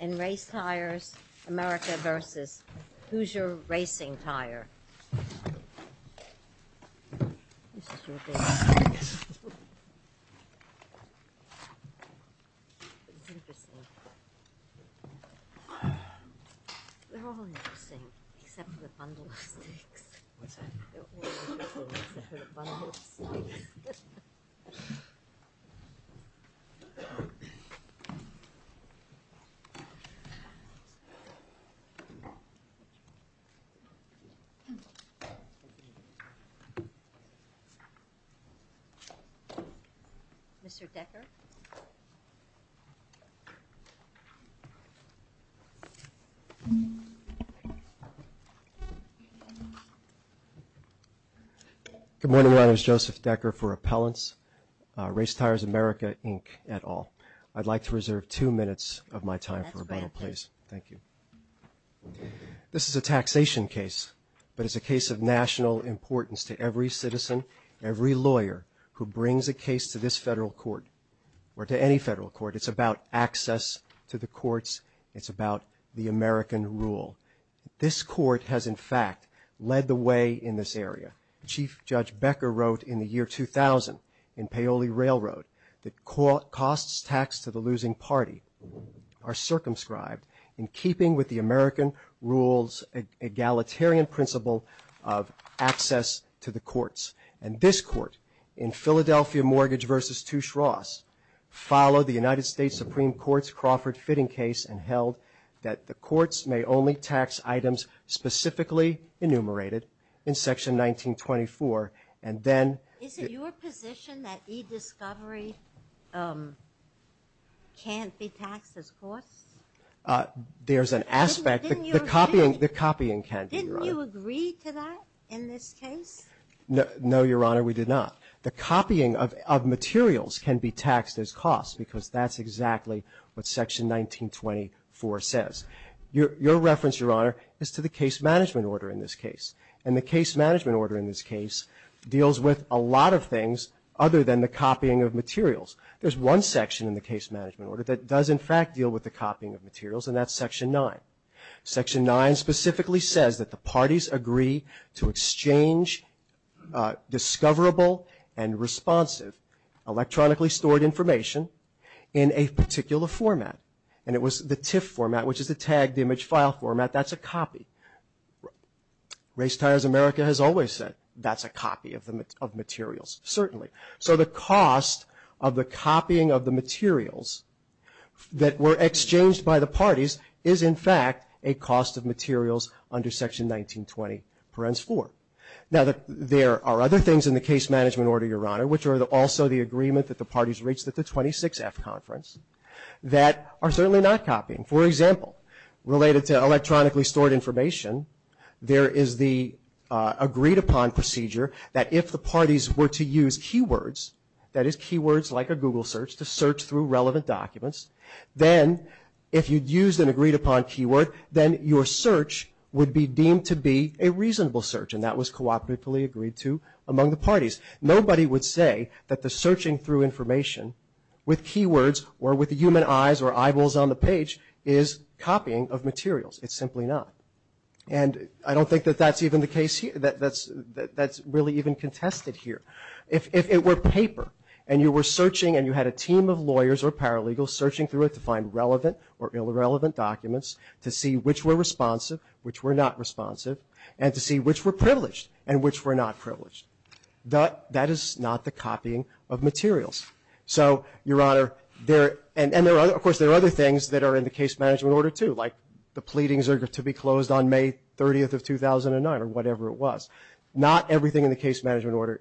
In Race Tires America v. Hoosier Racing Tire Good morning, my name is Joseph Decker for Appellants, Race Tires America, Inc. et al. I'd like to reserve two minutes of my time for rebuttal, please. Thank you. This is a taxation case, but it's a case of national importance to every citizen, every lawyer who brings a case to this federal court or to any federal court. It's about access to the courts. It's about the American rule. This court has, in fact, led the way in this area. Chief Judge Becker wrote in the year 2000 in Paoli Railroad that costs taxed to the losing party are circumscribed in keeping with the American rule's egalitarian principle of access to the courts. And this court, in Philadelphia Mortgage v. Touche Ross, followed the United States Supreme Court's Crawford Fitting Case and held that the courts may only tax items specifically enumerated in Section 1924. And then- Is it your position that e-discovery can't be taxed as costs? There's an aspect, the copying can be, Your Honor. Didn't you agree to that in this case? No, Your Honor, we did not. The copying of materials can be taxed as costs because that's exactly what Section 1924 says. Your reference, Your Honor, is to the case management order in this case. And the case management order in this case deals with a lot of things other than the copying of materials. There's one section in the case management order that does, in fact, deal with the copying of materials, and that's Section 9. Section 9 specifically says that the parties agree to exchange discoverable and responsive electronically stored information in a particular format. And it was the TIFF format, which is the tagged image file format, that's a copy. Race, Tires, America has always said that's a copy of materials, certainly. So the cost of the copying of the materials that were exchanged by the parties is, in fact, a cost of materials under Section 1920 parens four. Now, there are other things in the case management order, Your Honor, which are also the agreement that the parties reached at the 26F conference that are certainly not copying. For example, related to electronically stored information, there is the agreed upon procedure that if the parties were to use keywords, that is, keywords like a Google search to search through relevant documents, then if you'd used an agreed upon keyword, then your search would be deemed to be a reasonable search, and that was cooperatively agreed to among the parties. Nobody would say that the searching through information with keywords or with the human eyes or eyeballs on the page is copying of materials. It's simply not. And I don't think that that's even the case here, that's really even contested here. If it were paper and you were searching and you had a team of lawyers or paralegals searching through it to find relevant or irrelevant documents to see which were responsive, which were not responsive, and to see which were privileged and which were not privileged. That is not the copying of materials. So, your honor, and of course there are other things that are in the case management order too, like the pleadings are to be closed on May 30th of 2009 or whatever it was. Not everything in the case management order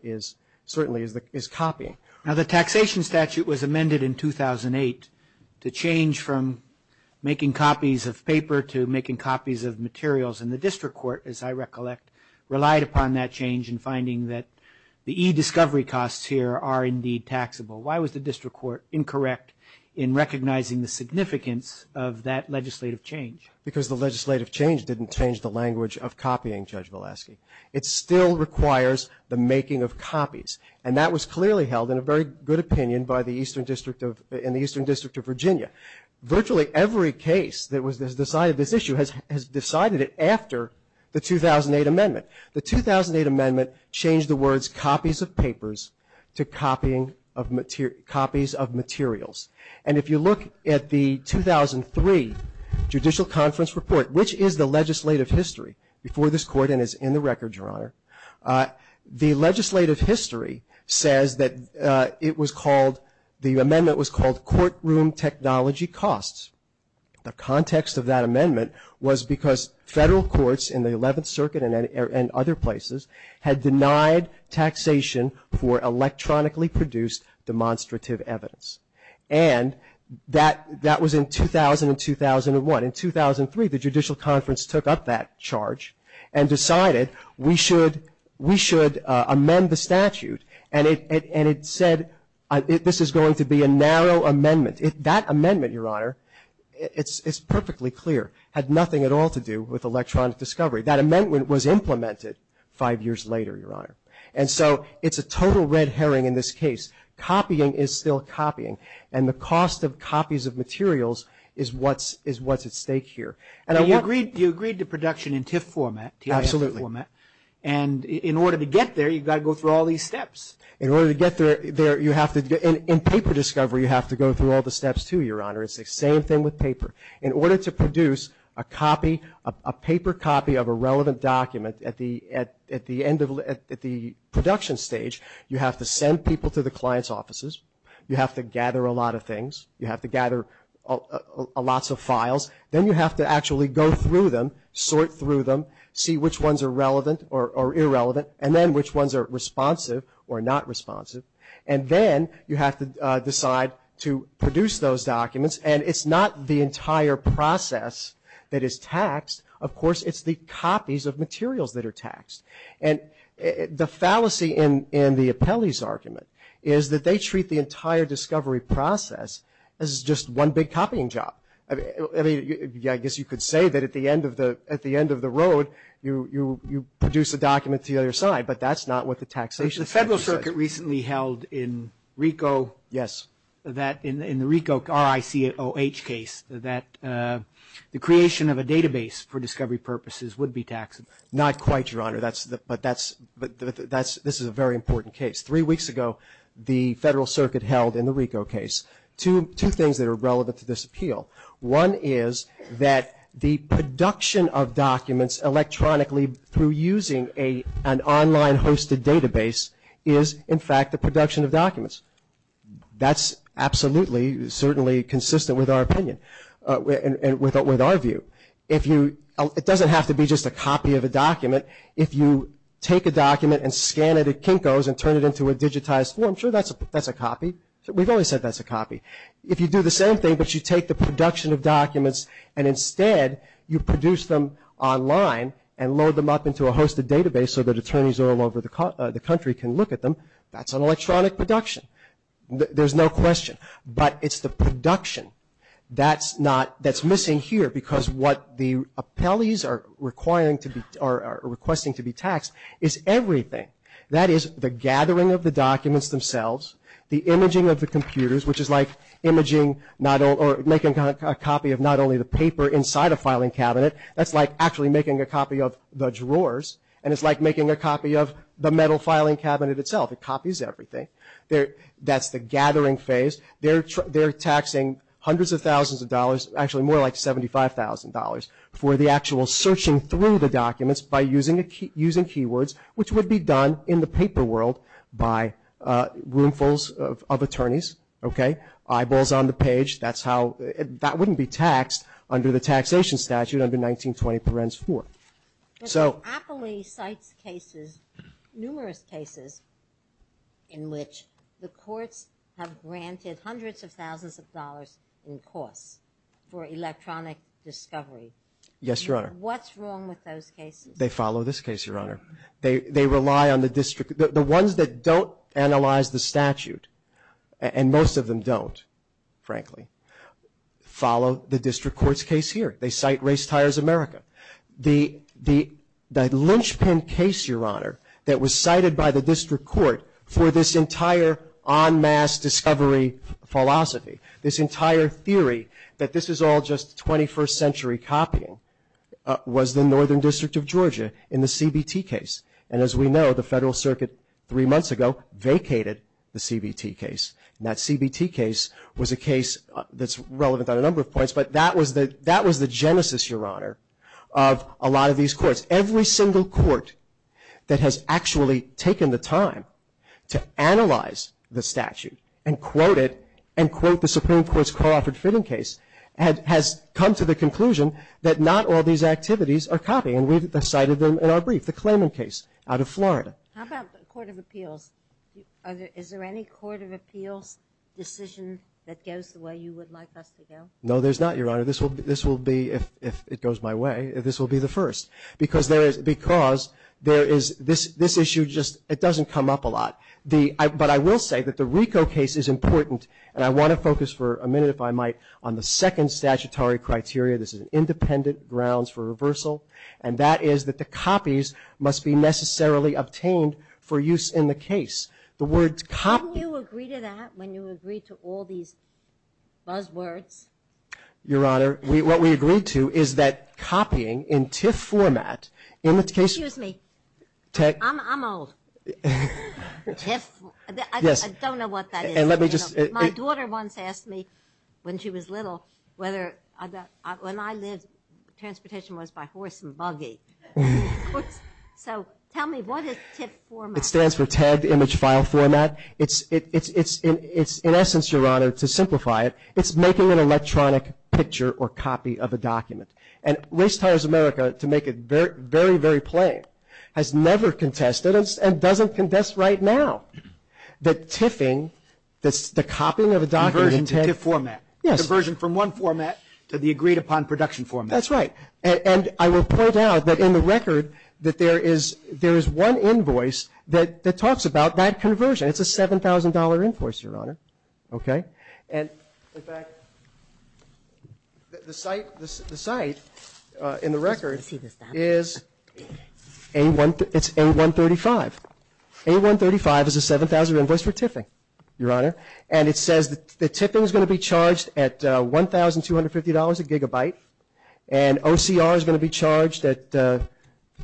certainly is copying. Now the taxation statute was amended in 2008 to change from making copies of paper to making copies of materials. And the district court, as I recollect, relied upon that change in finding that the e-discovery costs here are indeed taxable. Why was the district court incorrect in recognizing the significance of that legislative change? Because the legislative change didn't change the language of copying, Judge Valesky. It still requires the making of copies. And that was clearly held in a very good opinion in the Eastern District of Virginia. Virtually every case that has decided this issue has decided it after the 2008 amendment. The 2008 amendment changed the words copies of papers to copies of materials. And if you look at the 2003 judicial conference report, which is the legislative history before this court and is in the record, your honor. The legislative history says that it was called, the amendment was called courtroom technology costs. The context of that amendment was because federal courts in the 11th circuit and other places had denied taxation for electronically produced demonstrative evidence. And that was in 2000 and 2001. In 2003, the judicial conference took up that charge and decided we should amend the statute. And it said, this is going to be a narrow amendment. That amendment, your honor, it's perfectly clear, had nothing at all to do with electronic discovery. That amendment was implemented five years later, your honor. And so it's a total red herring in this case. Copying is still copying. And the cost of copies of materials is what's at stake here. And I want- You agreed to production in TIFF format. Absolutely. And in order to get there, you've got to go through all these steps. In order to get there, you have to, in paper discovery, you have to go through all the steps too, your honor. It's the same thing with paper. In order to produce a copy, a paper copy of a relevant document at the end of, at the production stage, you have to send people to the client's offices. You have to gather a lot of things. You have to gather lots of files. Then you have to actually go through them, sort through them, see which ones are relevant or irrelevant, and then which ones are responsive or not responsive. And then you have to decide to produce those documents. And it's not the entire process that is taxed. Of course, it's the copies of materials that are taxed. And the fallacy in the Appellee's argument is that they treat the entire discovery process as just one big copying job. I mean, I guess you could say that at the end of the road, you produce a document to the other side, but that's not what the taxation- The Federal Circuit recently held in Ricoh- Yes. That in the Ricoh, R-I-C-O-H case, that the creation of a database for discovery purposes would be taxed. Not quite, Your Honor, but that's, this is a very important case. Three weeks ago, the Federal Circuit held in the Ricoh case, two things that are relevant to this appeal. One is that the production of documents electronically through using an online hosted database is, in fact, the production of documents. That's absolutely, certainly consistent with our opinion and with our view. If you, it doesn't have to be just a copy of a document. If you take a document and scan it at Kinko's and turn it into a digitized form, sure, that's a copy. We've always said that's a copy. If you do the same thing, but you take the production of documents and instead you produce them online and load them up into a hosted database so that attorneys all over the country can look at them, that's an electronic production. There's no question, but it's the production that's not, that's missing here because what the appellees are requiring to be, are requesting to be taxed, is everything. That is, the gathering of the documents themselves, the imaging of the computers, which is like imaging not all, or making a copy of not only the paper inside a filing cabinet. That's like actually making a copy of the drawers, and it's like making a copy of the metal filing cabinet itself. It copies everything. That's the gathering phase. They're taxing hundreds of thousands of dollars, actually more like $75,000 for the actual searching through the documents by using keywords, which would be done in the paper world by roomfuls of attorneys. Okay? Eyeballs on the page, that's how, that wouldn't be taxed under the taxation statute under 1920 parens four. So. Appellee sites cases, numerous cases, in which the courts have granted hundreds of thousands of dollars in costs for electronic discovery. Yes, your honor. What's wrong with those cases? They follow this case, your honor. They, they rely on the district, the, the ones that don't analyze the statute, and most of them don't, frankly, follow the district court's case here. They cite Race Tires America. The, the, the linchpin case, your honor, that was cited by the district court for this entire en masse discovery philosophy, this entire theory, that this is all just 21st century copying, was the northern district of Georgia in the CBT case, and as we know, the federal circuit three months ago vacated the CBT case, and that CBT case was a case that's relevant on a number of points, but that was the, that was the genesis, your honor, of a lot of these courts. Every single court that has actually taken the time to analyze the statute, and quote it, and quote the Supreme Court's Crawford Fitting case, had, has come to the conclusion that not all these activities are copying, and we've cited them in our brief, the Clayman case out of Florida. How about the Court of Appeals? Are there, is there any Court of Appeals decision that goes the way you would like us to go? No, there's not, your honor. This will, this will be, if, if it goes my way, this will be the first. Because there is, because there is this, this issue just, it doesn't come up a lot. The, I, but I will say that the RICO case is important, and I want to focus for a minute, if I might, on the second statutory criteria. This is an independent grounds for reversal, and that is that the copies must be necessarily obtained for use in the case. The word copy- Your honor, we, what we agreed to is that copying in TIFF format, in the case. Excuse me. Tech. I'm, I'm old. TIFF. Yes. I, I don't know what that is. And let me just. My daughter once asked me, when she was little, whether, I, when I lived, transportation was by horse and buggy. So, tell me, what is TIFF format? It stands for tagged image file format. It's, it, it's, it's in, it's in essence, your honor, to simplify it, it's making an electronic picture or copy of a document. And Race Tires America, to make it very, very, very plain, has never contested, and, and doesn't contest right now. That TIFFing, that's the copying of a document in TIFF format. Yes. Diversion from one format to the agreed upon production format. That's right. And, and I will point out that in the record that there is, there is one invoice that, that talks about that conversion. It's a $7,000 invoice, your honor. Okay? And, in fact, the, the site, the, the site in the record is A1, it's A135. A135 is a 7,000 invoice for TIFFing, your honor. And it says that the TIFFing is gonna be charged at $1,250 a gigabyte. And OCR is gonna be charged at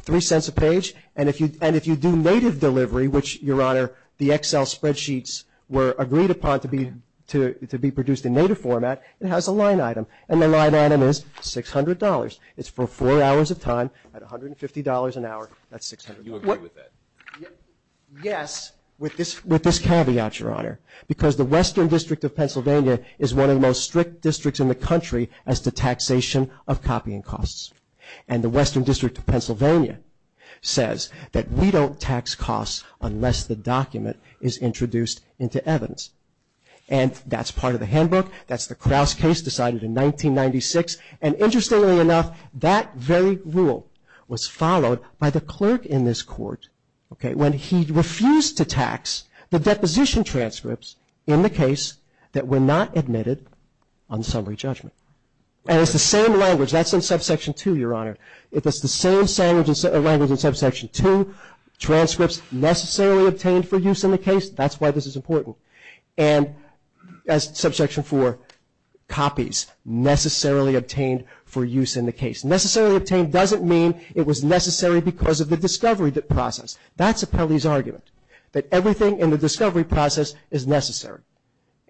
three cents a page. And if you, and if you do native delivery, which, your honor, the Excel spreadsheets were agreed upon to be, to, to be produced in native format, it has a line item, and the line item is $600. It's for four hours of time, at $150 an hour, that's $600. You agree with that? Yes, with this, with this caveat, your honor. Because the Western District of Pennsylvania is one of the most strict districts in the country as to taxation of copying costs. And the Western District of Pennsylvania says that we don't tax costs unless the document is introduced into evidence. And that's part of the handbook. That's the Crouse case decided in 1996. And interestingly enough, that very rule was followed by the clerk in this court, okay, when he refused to tax the deposition transcripts in the case that were not admitted on summary judgment. And it's the same language, that's in subsection two, your honor. It's the same language in subsection two. Transcripts necessarily obtained for use in the case, that's why this is important. And as subsection four, copies necessarily obtained for use in the case. Necessarily obtained doesn't mean it was necessary because of the discovery process. That's Appellee's argument, that everything in the discovery process is necessary.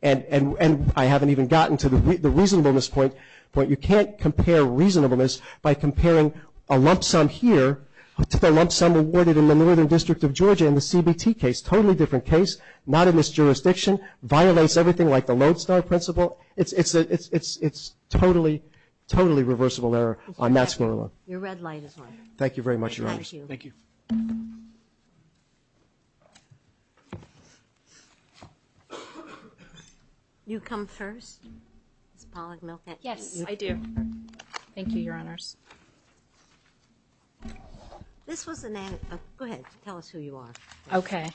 And I haven't even gotten to the reasonableness point, but you can't compare reasonableness by comparing a lump sum here to the lump sum awarded in the Northern District of Georgia in the CBT case. Totally different case, not in this jurisdiction, violates everything like the Lodestar principle. It's totally, totally reversible error on that score alone. Your red light is on. Thank you very much, your honors. Thank you. You come first, Ms. Pollack-Milken. Yes, I do. Thank you, your honors. This was an, go ahead, tell us who you are. Okay.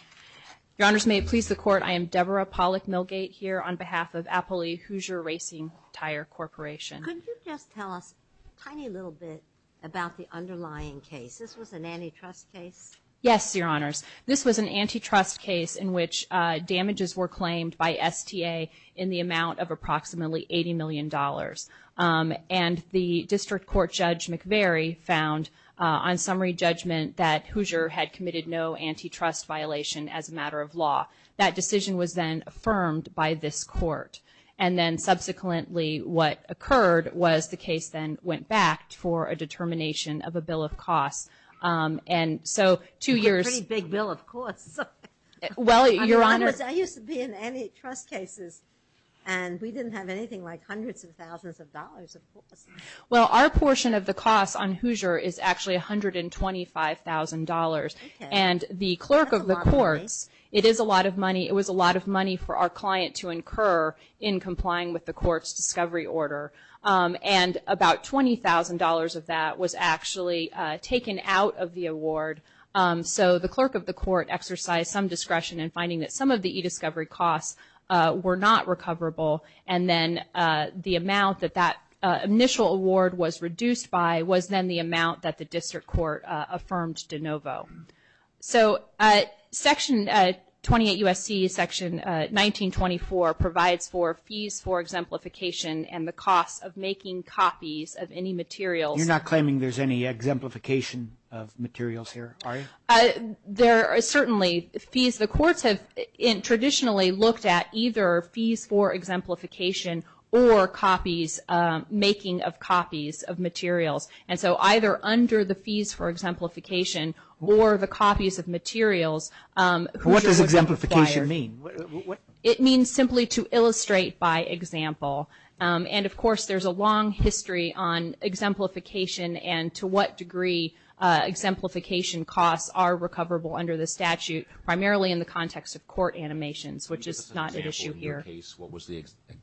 Your honors, may it please the court, I am Deborah Pollack-Milgate here on behalf of Appellee Hoosier Racing Tire Corporation. Could you just tell us a tiny little bit about the underlying case? This was an antitrust case? Yes, your honors. This was an antitrust case in which damages were claimed by STA in the amount of approximately $80 million. And the district court judge, McVeary, found on summary judgment that Hoosier had committed no antitrust violation as a matter of law. That decision was then affirmed by this court. And then subsequently, what occurred was the case then went back for a determination of a bill of costs. And so, two years- A pretty big bill, of course. Well, your honors- I used to be in antitrust cases. And we didn't have anything like hundreds of thousands of dollars, of course. Well, our portion of the cost on Hoosier is actually $125,000. And the clerk of the courts- That's a lot of money. It is a lot of money. It was a lot of money for our client to incur in complying with the court's discovery order. And about $20,000 of that was actually taken out of the award. So the clerk of the court exercised some discretion in finding that some of recoverable, and then the amount that that initial award was reduced by was then the amount that the district court affirmed de novo. So Section 28 U.S.C. Section 1924 provides for fees for exemplification and the cost of making copies of any materials- You're not claiming there's any exemplification of materials here, are you? There are certainly fees. The courts have traditionally looked at either fees for exemplification or copies, making of copies of materials. And so either under the fees for exemplification or the copies of materials- What does exemplification mean? It means simply to illustrate by example. And of course, there's a long history on exemplification and to what degree exemplification costs are recoverable under the statute, primarily in the context of court animations, which is not an issue here. In your case, what was the exemplification?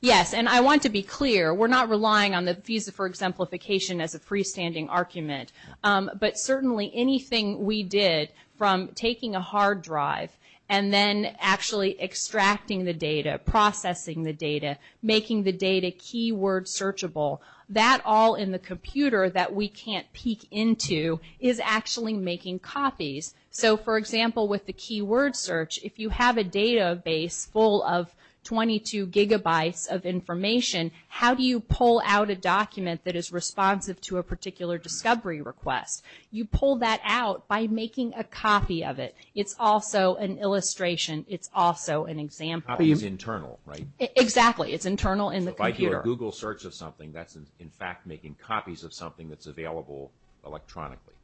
Yes, and I want to be clear, we're not relying on the fees for exemplification as a freestanding argument. But certainly anything we did from taking a hard drive and then actually extracting the data, processing the data, making the data keyword searchable, that all in the computer that we can't peek into is actually making copies. So for example, with the keyword search, if you have a database full of 22 gigabytes of information, how do you pull out a document that is responsive to a particular discovery request? You pull that out by making a copy of it. It's also an illustration. It's also an example. A copy is internal, right? Exactly. It's internal in the computer. So if I do a Google search of something, that's in fact making copies of something that's available electronically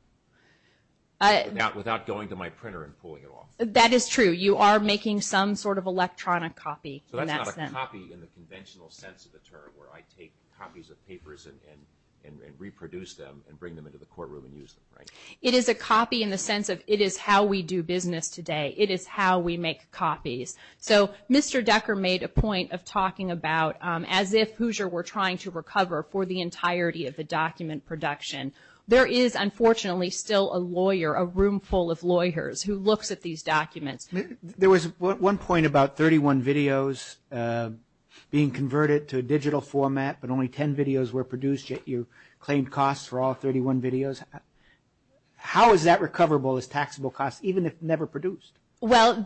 without going to my printer and pulling it off. That is true. You are making some sort of electronic copy in that sense. So that's not a copy in the conventional sense of the term where I take copies of papers and reproduce them and bring them into the courtroom and use them, right? It is a copy in the sense of it is how we do business today. It is how we make copies. So Mr. Decker made a point of talking about as if Hoosier were trying to recover for the entirety of the document production. There is unfortunately still a lawyer, a room full of lawyers who looks at these documents. There was one point about 31 videos being converted to a digital format, but only 10 videos were produced yet you claimed costs for all 31 videos. How is that recoverable as taxable costs even if never produced? Well,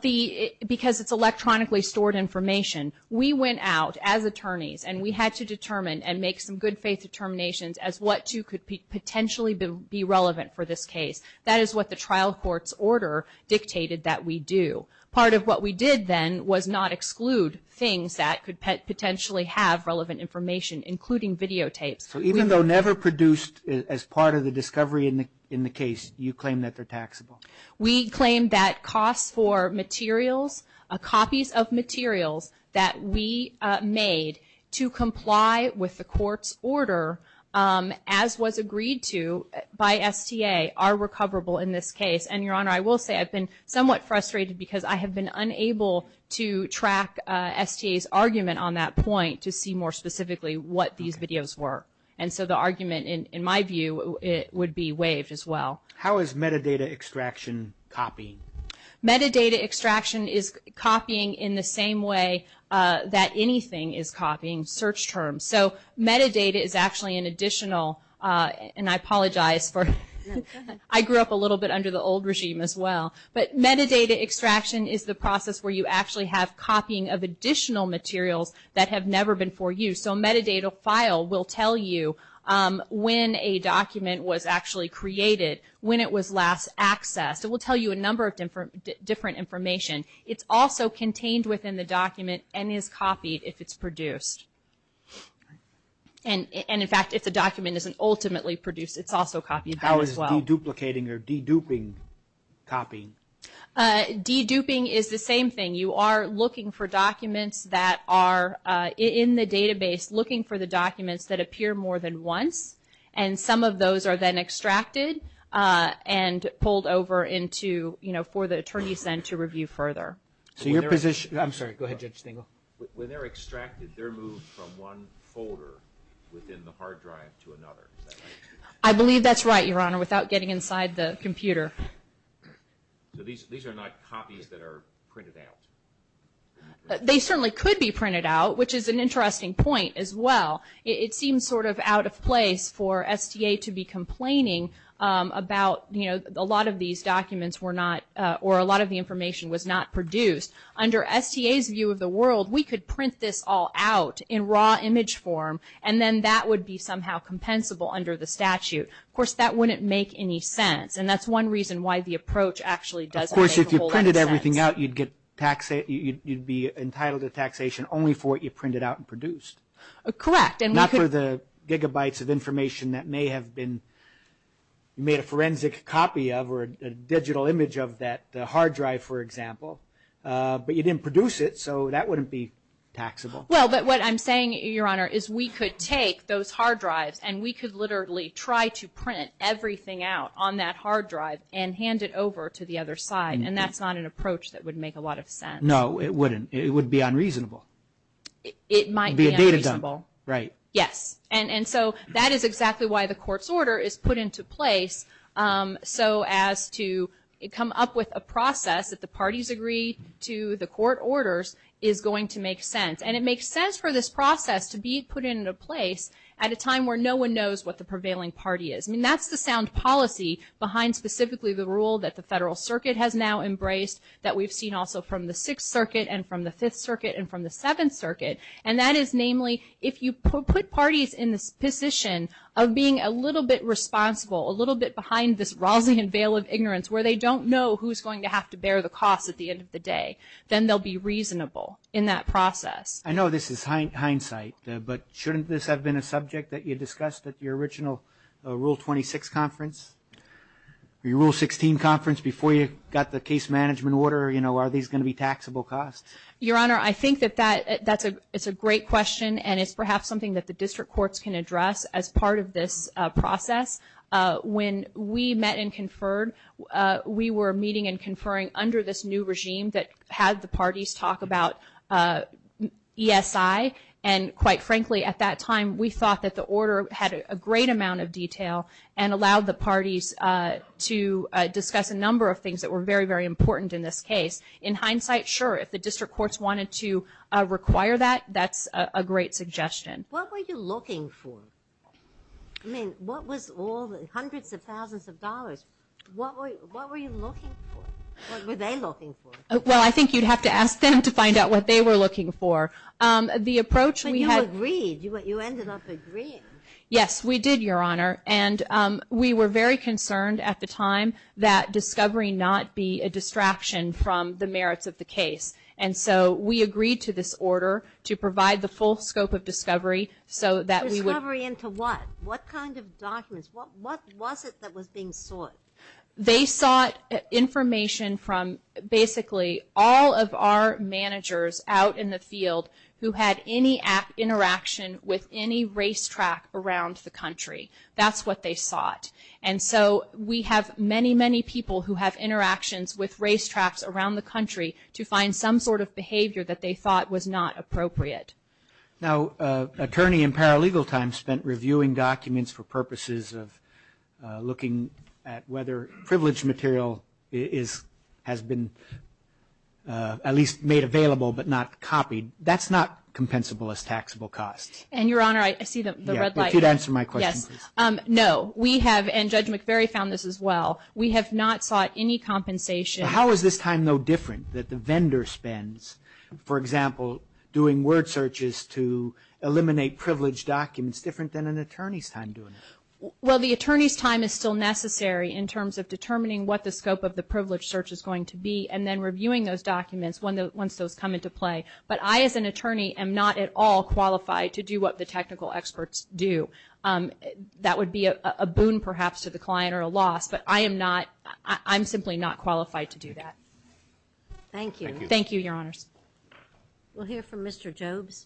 because it's electronically stored information, we went out as attorneys and we had to determine and make some good faith determinations as what two could potentially be relevant for this case. That is what the trial court's order dictated that we do. Part of what we did then was not exclude things that could potentially have relevant information, including videotapes. So even though never produced as part of the discovery in the case, you claim that they're taxable? We claim that costs for materials, copies of materials that we made to comply with the court's order as was agreed to by STA are recoverable in this case. And Your Honor, I will say I've been somewhat frustrated because I have been unable to track STA's argument on that point to see more specifically what these videos were. And so the argument in my view, it would be waived as well. How is metadata extraction copying? Metadata extraction is copying in the same way that anything is copying, search terms. So metadata is actually an additional, and I apologize for, I grew up a little bit under the old regime as well. But metadata extraction is the process where you actually have copying of additional materials that have never been for use. So a metadata file will tell you when a document was actually created, when it was last accessed. It will tell you a number of different information. It's also contained within the document and is copied if it's produced. And in fact, if the document isn't ultimately produced, it's also copied as well. How is deduplicating or deduping copying? Deduping is the same thing. You are looking for documents that are in the database, looking for the documents that appear more than once. And some of those are then extracted and pulled over into, you know, for the attorneys then to review further. So your position, I'm sorry, go ahead Judge Stengel. When they're extracted, they're moved from one folder within the hard drive to another, is that right? I believe that's right, Your Honor, without getting inside the computer. So these are not copies that are printed out? They certainly could be printed out, which is an interesting point as well. It seems sort of out of place for STA to be complaining about, you know, a lot of these documents were not, or a lot of the information was not produced. Under STA's view of the world, we could print this all out in raw image form, and then that would be somehow compensable under the statute. Of course, that wouldn't make any sense. And that's one reason why the approach actually doesn't make a whole lot of sense. Of course, if you printed everything out, you'd be entitled to taxation only for what you printed out and produced. Correct. Not for the gigabytes of information that may have been made a forensic copy of, or a digital image of that hard drive, for example. But you didn't produce it, so that wouldn't be taxable. Well, but what I'm saying, Your Honor, is we could take those hard drives, and we could literally try to print everything out on that hard drive and hand it over to the other side. And that's not an approach that would make a lot of sense. No, it wouldn't. It would be unreasonable. It might be unreasonable. Right. Yes. And so, that is exactly why the court's order is put into place so as to come up with a process that the parties agree to, the court orders, is going to make sense. And it makes sense for this process to be put into place at a time where no one knows what the prevailing party is. I mean, that's the sound policy behind specifically the rule that the Federal Circuit has now embraced, that we've seen also from the Sixth Circuit and from the Fifth Circuit and from the Seventh Circuit. And that is namely, if you put parties in this position of being a little bit responsible, a little bit behind this rousing unveil of ignorance where they don't know who's going to have to bear the cost at the end of the day. Then they'll be reasonable in that process. I know this is hindsight, but shouldn't this have been a subject that you discussed at your original Rule 26 conference? Your Rule 16 conference before you got the case management order, you know, are these going to be taxable costs? Your Honor, I think that that's a great question and it's perhaps something that the district courts can address as part of this process. When we met and conferred, we were meeting and conferring under this new regime that had the parties talk about ESI. And quite frankly, at that time, we thought that the order had a great amount of detail and allowed the parties to discuss a number of things that were very, very important in this case. In hindsight, sure, if the district courts wanted to require that, that's a great suggestion. What were you looking for? I mean, what was all the hundreds of thousands of dollars? What were you looking for? What were they looking for? Well, I think you'd have to ask them to find out what they were looking for. The approach we had. But you agreed. You ended up agreeing. Yes, we did, Your Honor. And we were very concerned at the time that discovery not be a distraction from the merits of the case. And so, we agreed to this order to provide the full scope of discovery so that we would. Discovery into what? What kind of documents? What was it that was being sought? They sought information from basically all of our managers out in the field who had any interaction with any racetrack around the country. That's what they sought. And so, we have many, many people who have interactions with racetracks around the country to find some sort of behavior that they thought was not appropriate. Now, attorney in paralegal time spent reviewing documents for purposes of looking at whether privileged material has been at least made available but not copied. That's not compensable as taxable costs. And, Your Honor, I see the red light. If you'd answer my question, please. No. We have, and Judge McVeary found this as well. We have not sought any compensation. How is this time, though, different that the vendor spends, for example, doing word searches to eliminate privileged documents, different than an attorney's time doing it? Well, the attorney's time is still necessary in terms of determining what the scope of the privileged search is going to be and then reviewing those documents once those come into play, but I, as an attorney, am not at all qualified to do what the technical experts do. That would be a boon, perhaps, to the client or a loss, but I am not, I'm simply not qualified to do that. Thank you. Thank you, Your Honors. We'll hear from Mr. Jobes.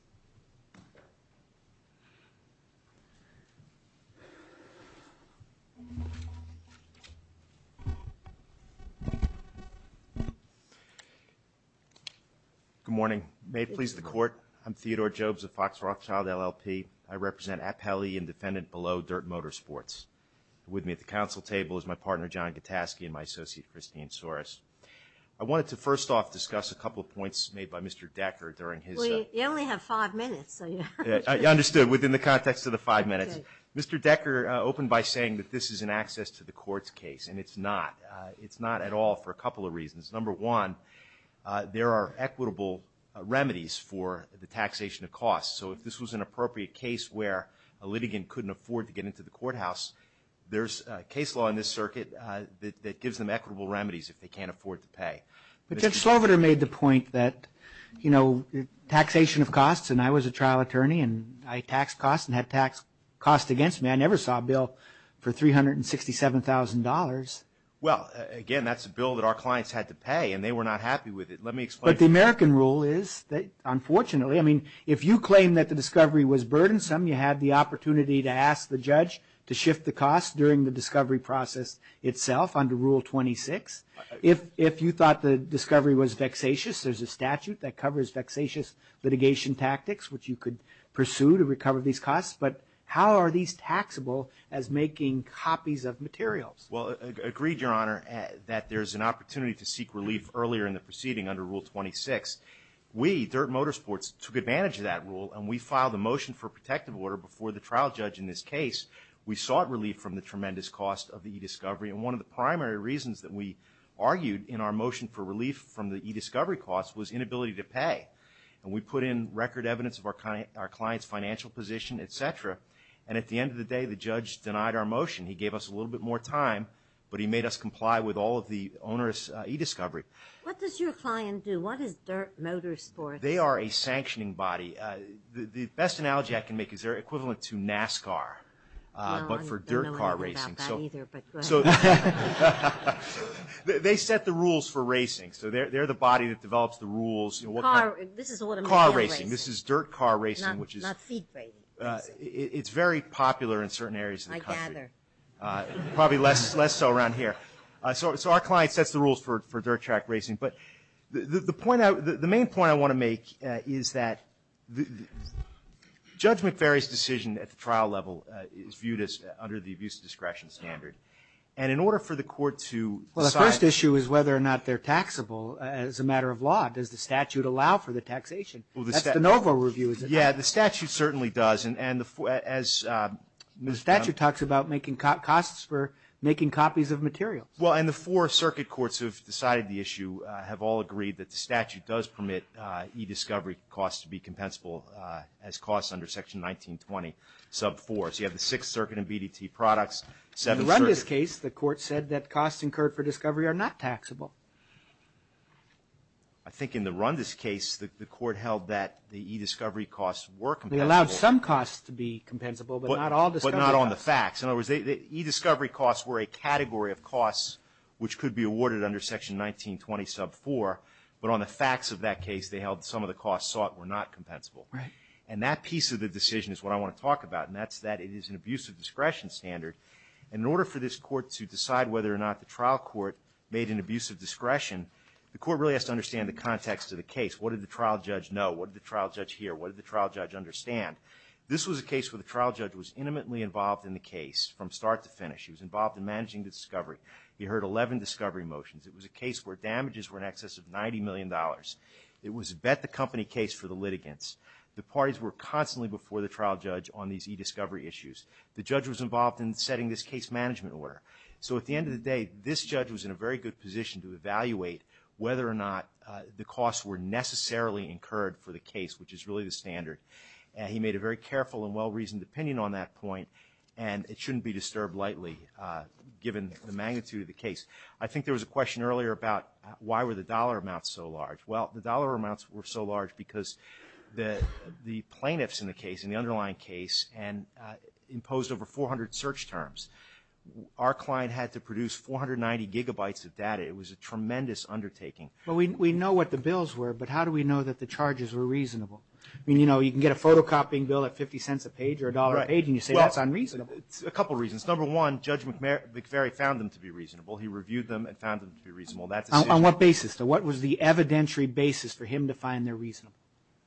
Good morning. May it please the Court, I'm Theodore Jobes of Fox Rothschild, LLP. I represent Appelli and defendant below Dirt Motorsports. With me at the council table is my partner, John Gattaschi, and my associate, Christine Soros. I wanted to first off discuss a couple of points made by Mr. Decker during his- Well, you only have five minutes, so you- You understood within the context of the five minutes. Mr. Decker opened by saying that this is an access to the court's case, and it's not. It's not at all for a couple of reasons. Number one, there are equitable remedies for the taxation of costs, so if this was an appropriate case where a litigant couldn't afford to get to the courthouse, there's a case law in this circuit that gives them equitable remedies if they can't afford to pay. But Judge Sloviter made the point that, you know, taxation of costs, and I was a trial attorney, and I taxed costs and had taxed costs against me. I never saw a bill for $367,000. Well, again, that's a bill that our clients had to pay, and they were not happy with it. Let me explain- But the American rule is that, unfortunately, I mean, if you claim that the discovery was burdensome, you had the opportunity to ask the judge to shift the cost during the discovery process itself under Rule 26, if you thought the discovery was vexatious, there's a statute that covers vexatious litigation tactics, which you could pursue to recover these costs, but how are these taxable as making copies of materials? Well, agreed, Your Honor, that there's an opportunity to seek relief earlier in the proceeding under Rule 26. We, Dirt Motorsports, took advantage of that rule, and we filed a motion for protective order before the trial judge in this case. We sought relief from the tremendous cost of the e-discovery, and one of the primary reasons that we argued in our motion for relief from the e-discovery costs was inability to pay, and we put in record evidence of our client's financial position, et cetera, and at the end of the day, the judge denied our motion. He gave us a little bit more time, but he made us comply with all of the onerous e-discovery. What does your client do? What is Dirt Motorsports? They are a sanctioning body. The best analogy I can make is they're equivalent to NASCAR, but for dirt car racing. I don't know anything about that either, but go ahead. They set the rules for racing, so they're the body that develops the rules. Car racing, this is dirt car racing, which is very popular in certain areas of the country. I gather. Probably less so around here. So our client sets the rules for dirt track racing, but the main point I want to make is that Judge McVeary's decision at the trial level is viewed as under the abuse of discretion standard, and in order for the court to decide- Well, the first issue is whether or not they're taxable as a matter of law. Does the statute allow for the taxation? That's the NOVO review, is it not? Yeah, the statute certainly does, and as- The statute talks about making costs for making copies of materials. Well, and the four circuit courts who have decided the issue have all agreed that the statute does permit e-discovery costs to be compensable as costs under Section 1920, sub 4. So you have the Sixth Circuit and BDT products, Seventh Circuit- In the Rundis case, the court said that costs incurred for discovery are not taxable. I think in the Rundis case, the court held that the e-discovery costs were compensable- They allowed some costs to be compensable, but not all discovery costs. But not on the facts. In other words, the e-discovery costs were a category of costs which could be awarded under Section 1920, sub 4, but on the facts of that case, they held some of the costs sought were not compensable. Right. And that piece of the decision is what I want to talk about, and that's that it is an abuse of discretion standard. In order for this court to decide whether or not the trial court made an abuse of discretion, the court really has to understand the context of the case. What did the trial judge know? What did the trial judge hear? What did the trial judge understand? This was a case where the trial judge was intimately involved in the case from start to finish. He was involved in managing the discovery. He heard 11 discovery motions. It was a case where damages were in excess of $90 million. It was a bet the company case for the litigants. The parties were constantly before the trial judge on these e-discovery issues. The judge was involved in setting this case management order. So at the end of the day, this judge was in a very good position to evaluate whether or not the costs were necessarily incurred for the case, which is really the standard. He made a very careful and well-reasoned opinion on that point. And it shouldn't be disturbed lightly, given the magnitude of the case. I think there was a question earlier about why were the dollar amounts so large? Well, the dollar amounts were so large because the plaintiffs in the case, in the underlying case, imposed over 400 search terms. Our client had to produce 490 gigabytes of data. It was a tremendous undertaking. Well, we know what the bills were, but how do we know that the charges were reasonable? I mean, you know, you can get a photocopying bill at 50 cents a page or a dollar a page, and you say that's unreasonable. A couple reasons. Number one, Judge McVery found them to be reasonable. He reviewed them and found them to be reasonable. That's a- On what basis? So what was the evidentiary basis for him to find they're reasonable?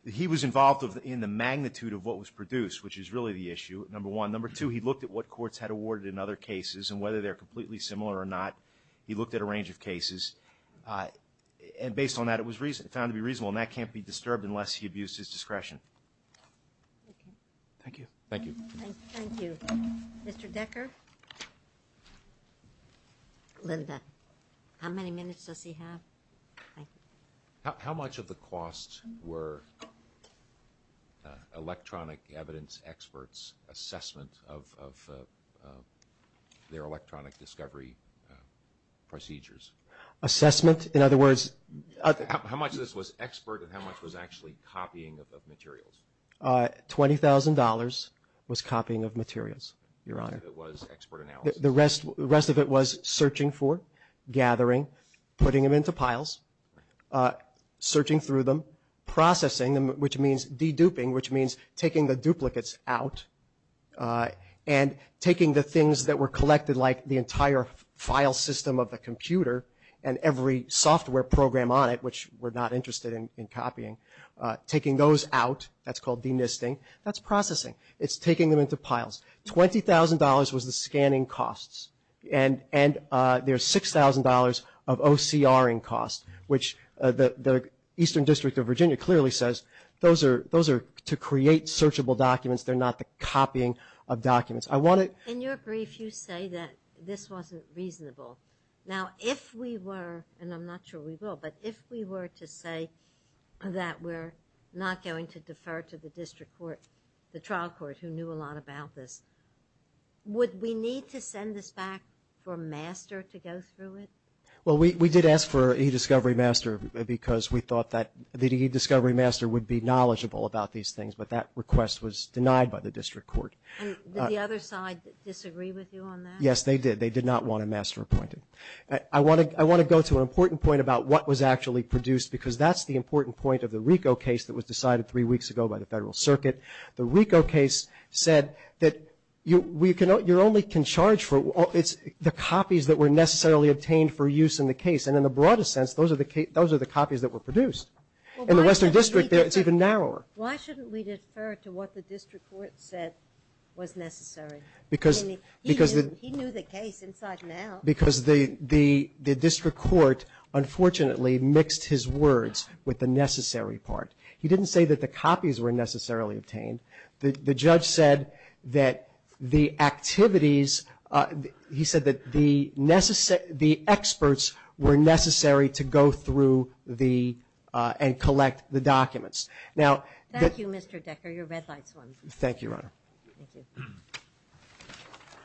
He was involved in the magnitude of what was produced, which is really the issue. Number one. Number two, he looked at what courts had awarded in other cases and whether they're completely similar or not. He looked at a range of cases. And based on that, it was found to be reasonable. And that can't be disturbed unless he abused his discretion. Thank you. Thank you. Thank you. Mr. Decker? Linda. How many minutes does he have? How much of the cost were electronic evidence experts' assessment of their electronic discovery procedures? Assessment? In other words- How much of this was expert and how much was actually copying of materials? $20,000 was copying of materials, Your Honor. The rest of it was expert analysis? The rest of it was searching for, gathering, putting them into piles, searching through them, processing them, which means de-duping, which means taking the duplicates out, and taking the things that were collected like the entire file system of the computer and every software program on it, which we're not interested in copying, taking those out. That's called de-nisting. That's processing. It's taking them into piles. $20,000 was the scanning costs. And there's $6,000 of OCRing costs, which the Eastern District of Virginia clearly says those are to create searchable documents. They're not the copying of documents. I want to- In your brief, you say that this wasn't reasonable. Now, if we were, and I'm not sure we will, but if we were to say that we're not going to defer to the district court, the trial court, who knew a lot about this, would we need to send this back for master to go through it? Well, we did ask for e-discovery master because we thought that the e-discovery master would be knowledgeable about these things, but that request was denied by the district court. Did the other side disagree with you on that? Yes, they did. They did not want a master appointed. I want to go to an important point about what was actually produced, because that's the important point of the RICO case that was decided three weeks ago by the Federal Circuit. The RICO case said that you only can charge for the copies that were necessarily obtained for use in the case. And in the broadest sense, those are the copies that were produced. In the Western District, it's even narrower. Why shouldn't we defer to what the district court said was necessary? He knew the case inside and out. Because the district court, unfortunately, mixed his words with the necessary part. He didn't say that the copies were necessarily obtained. The judge said that the activities, he said that the experts were necessary to go through and collect the documents. Thank you, Mr. Decker, your red light's on. Thank you, Your Honor. Thank you.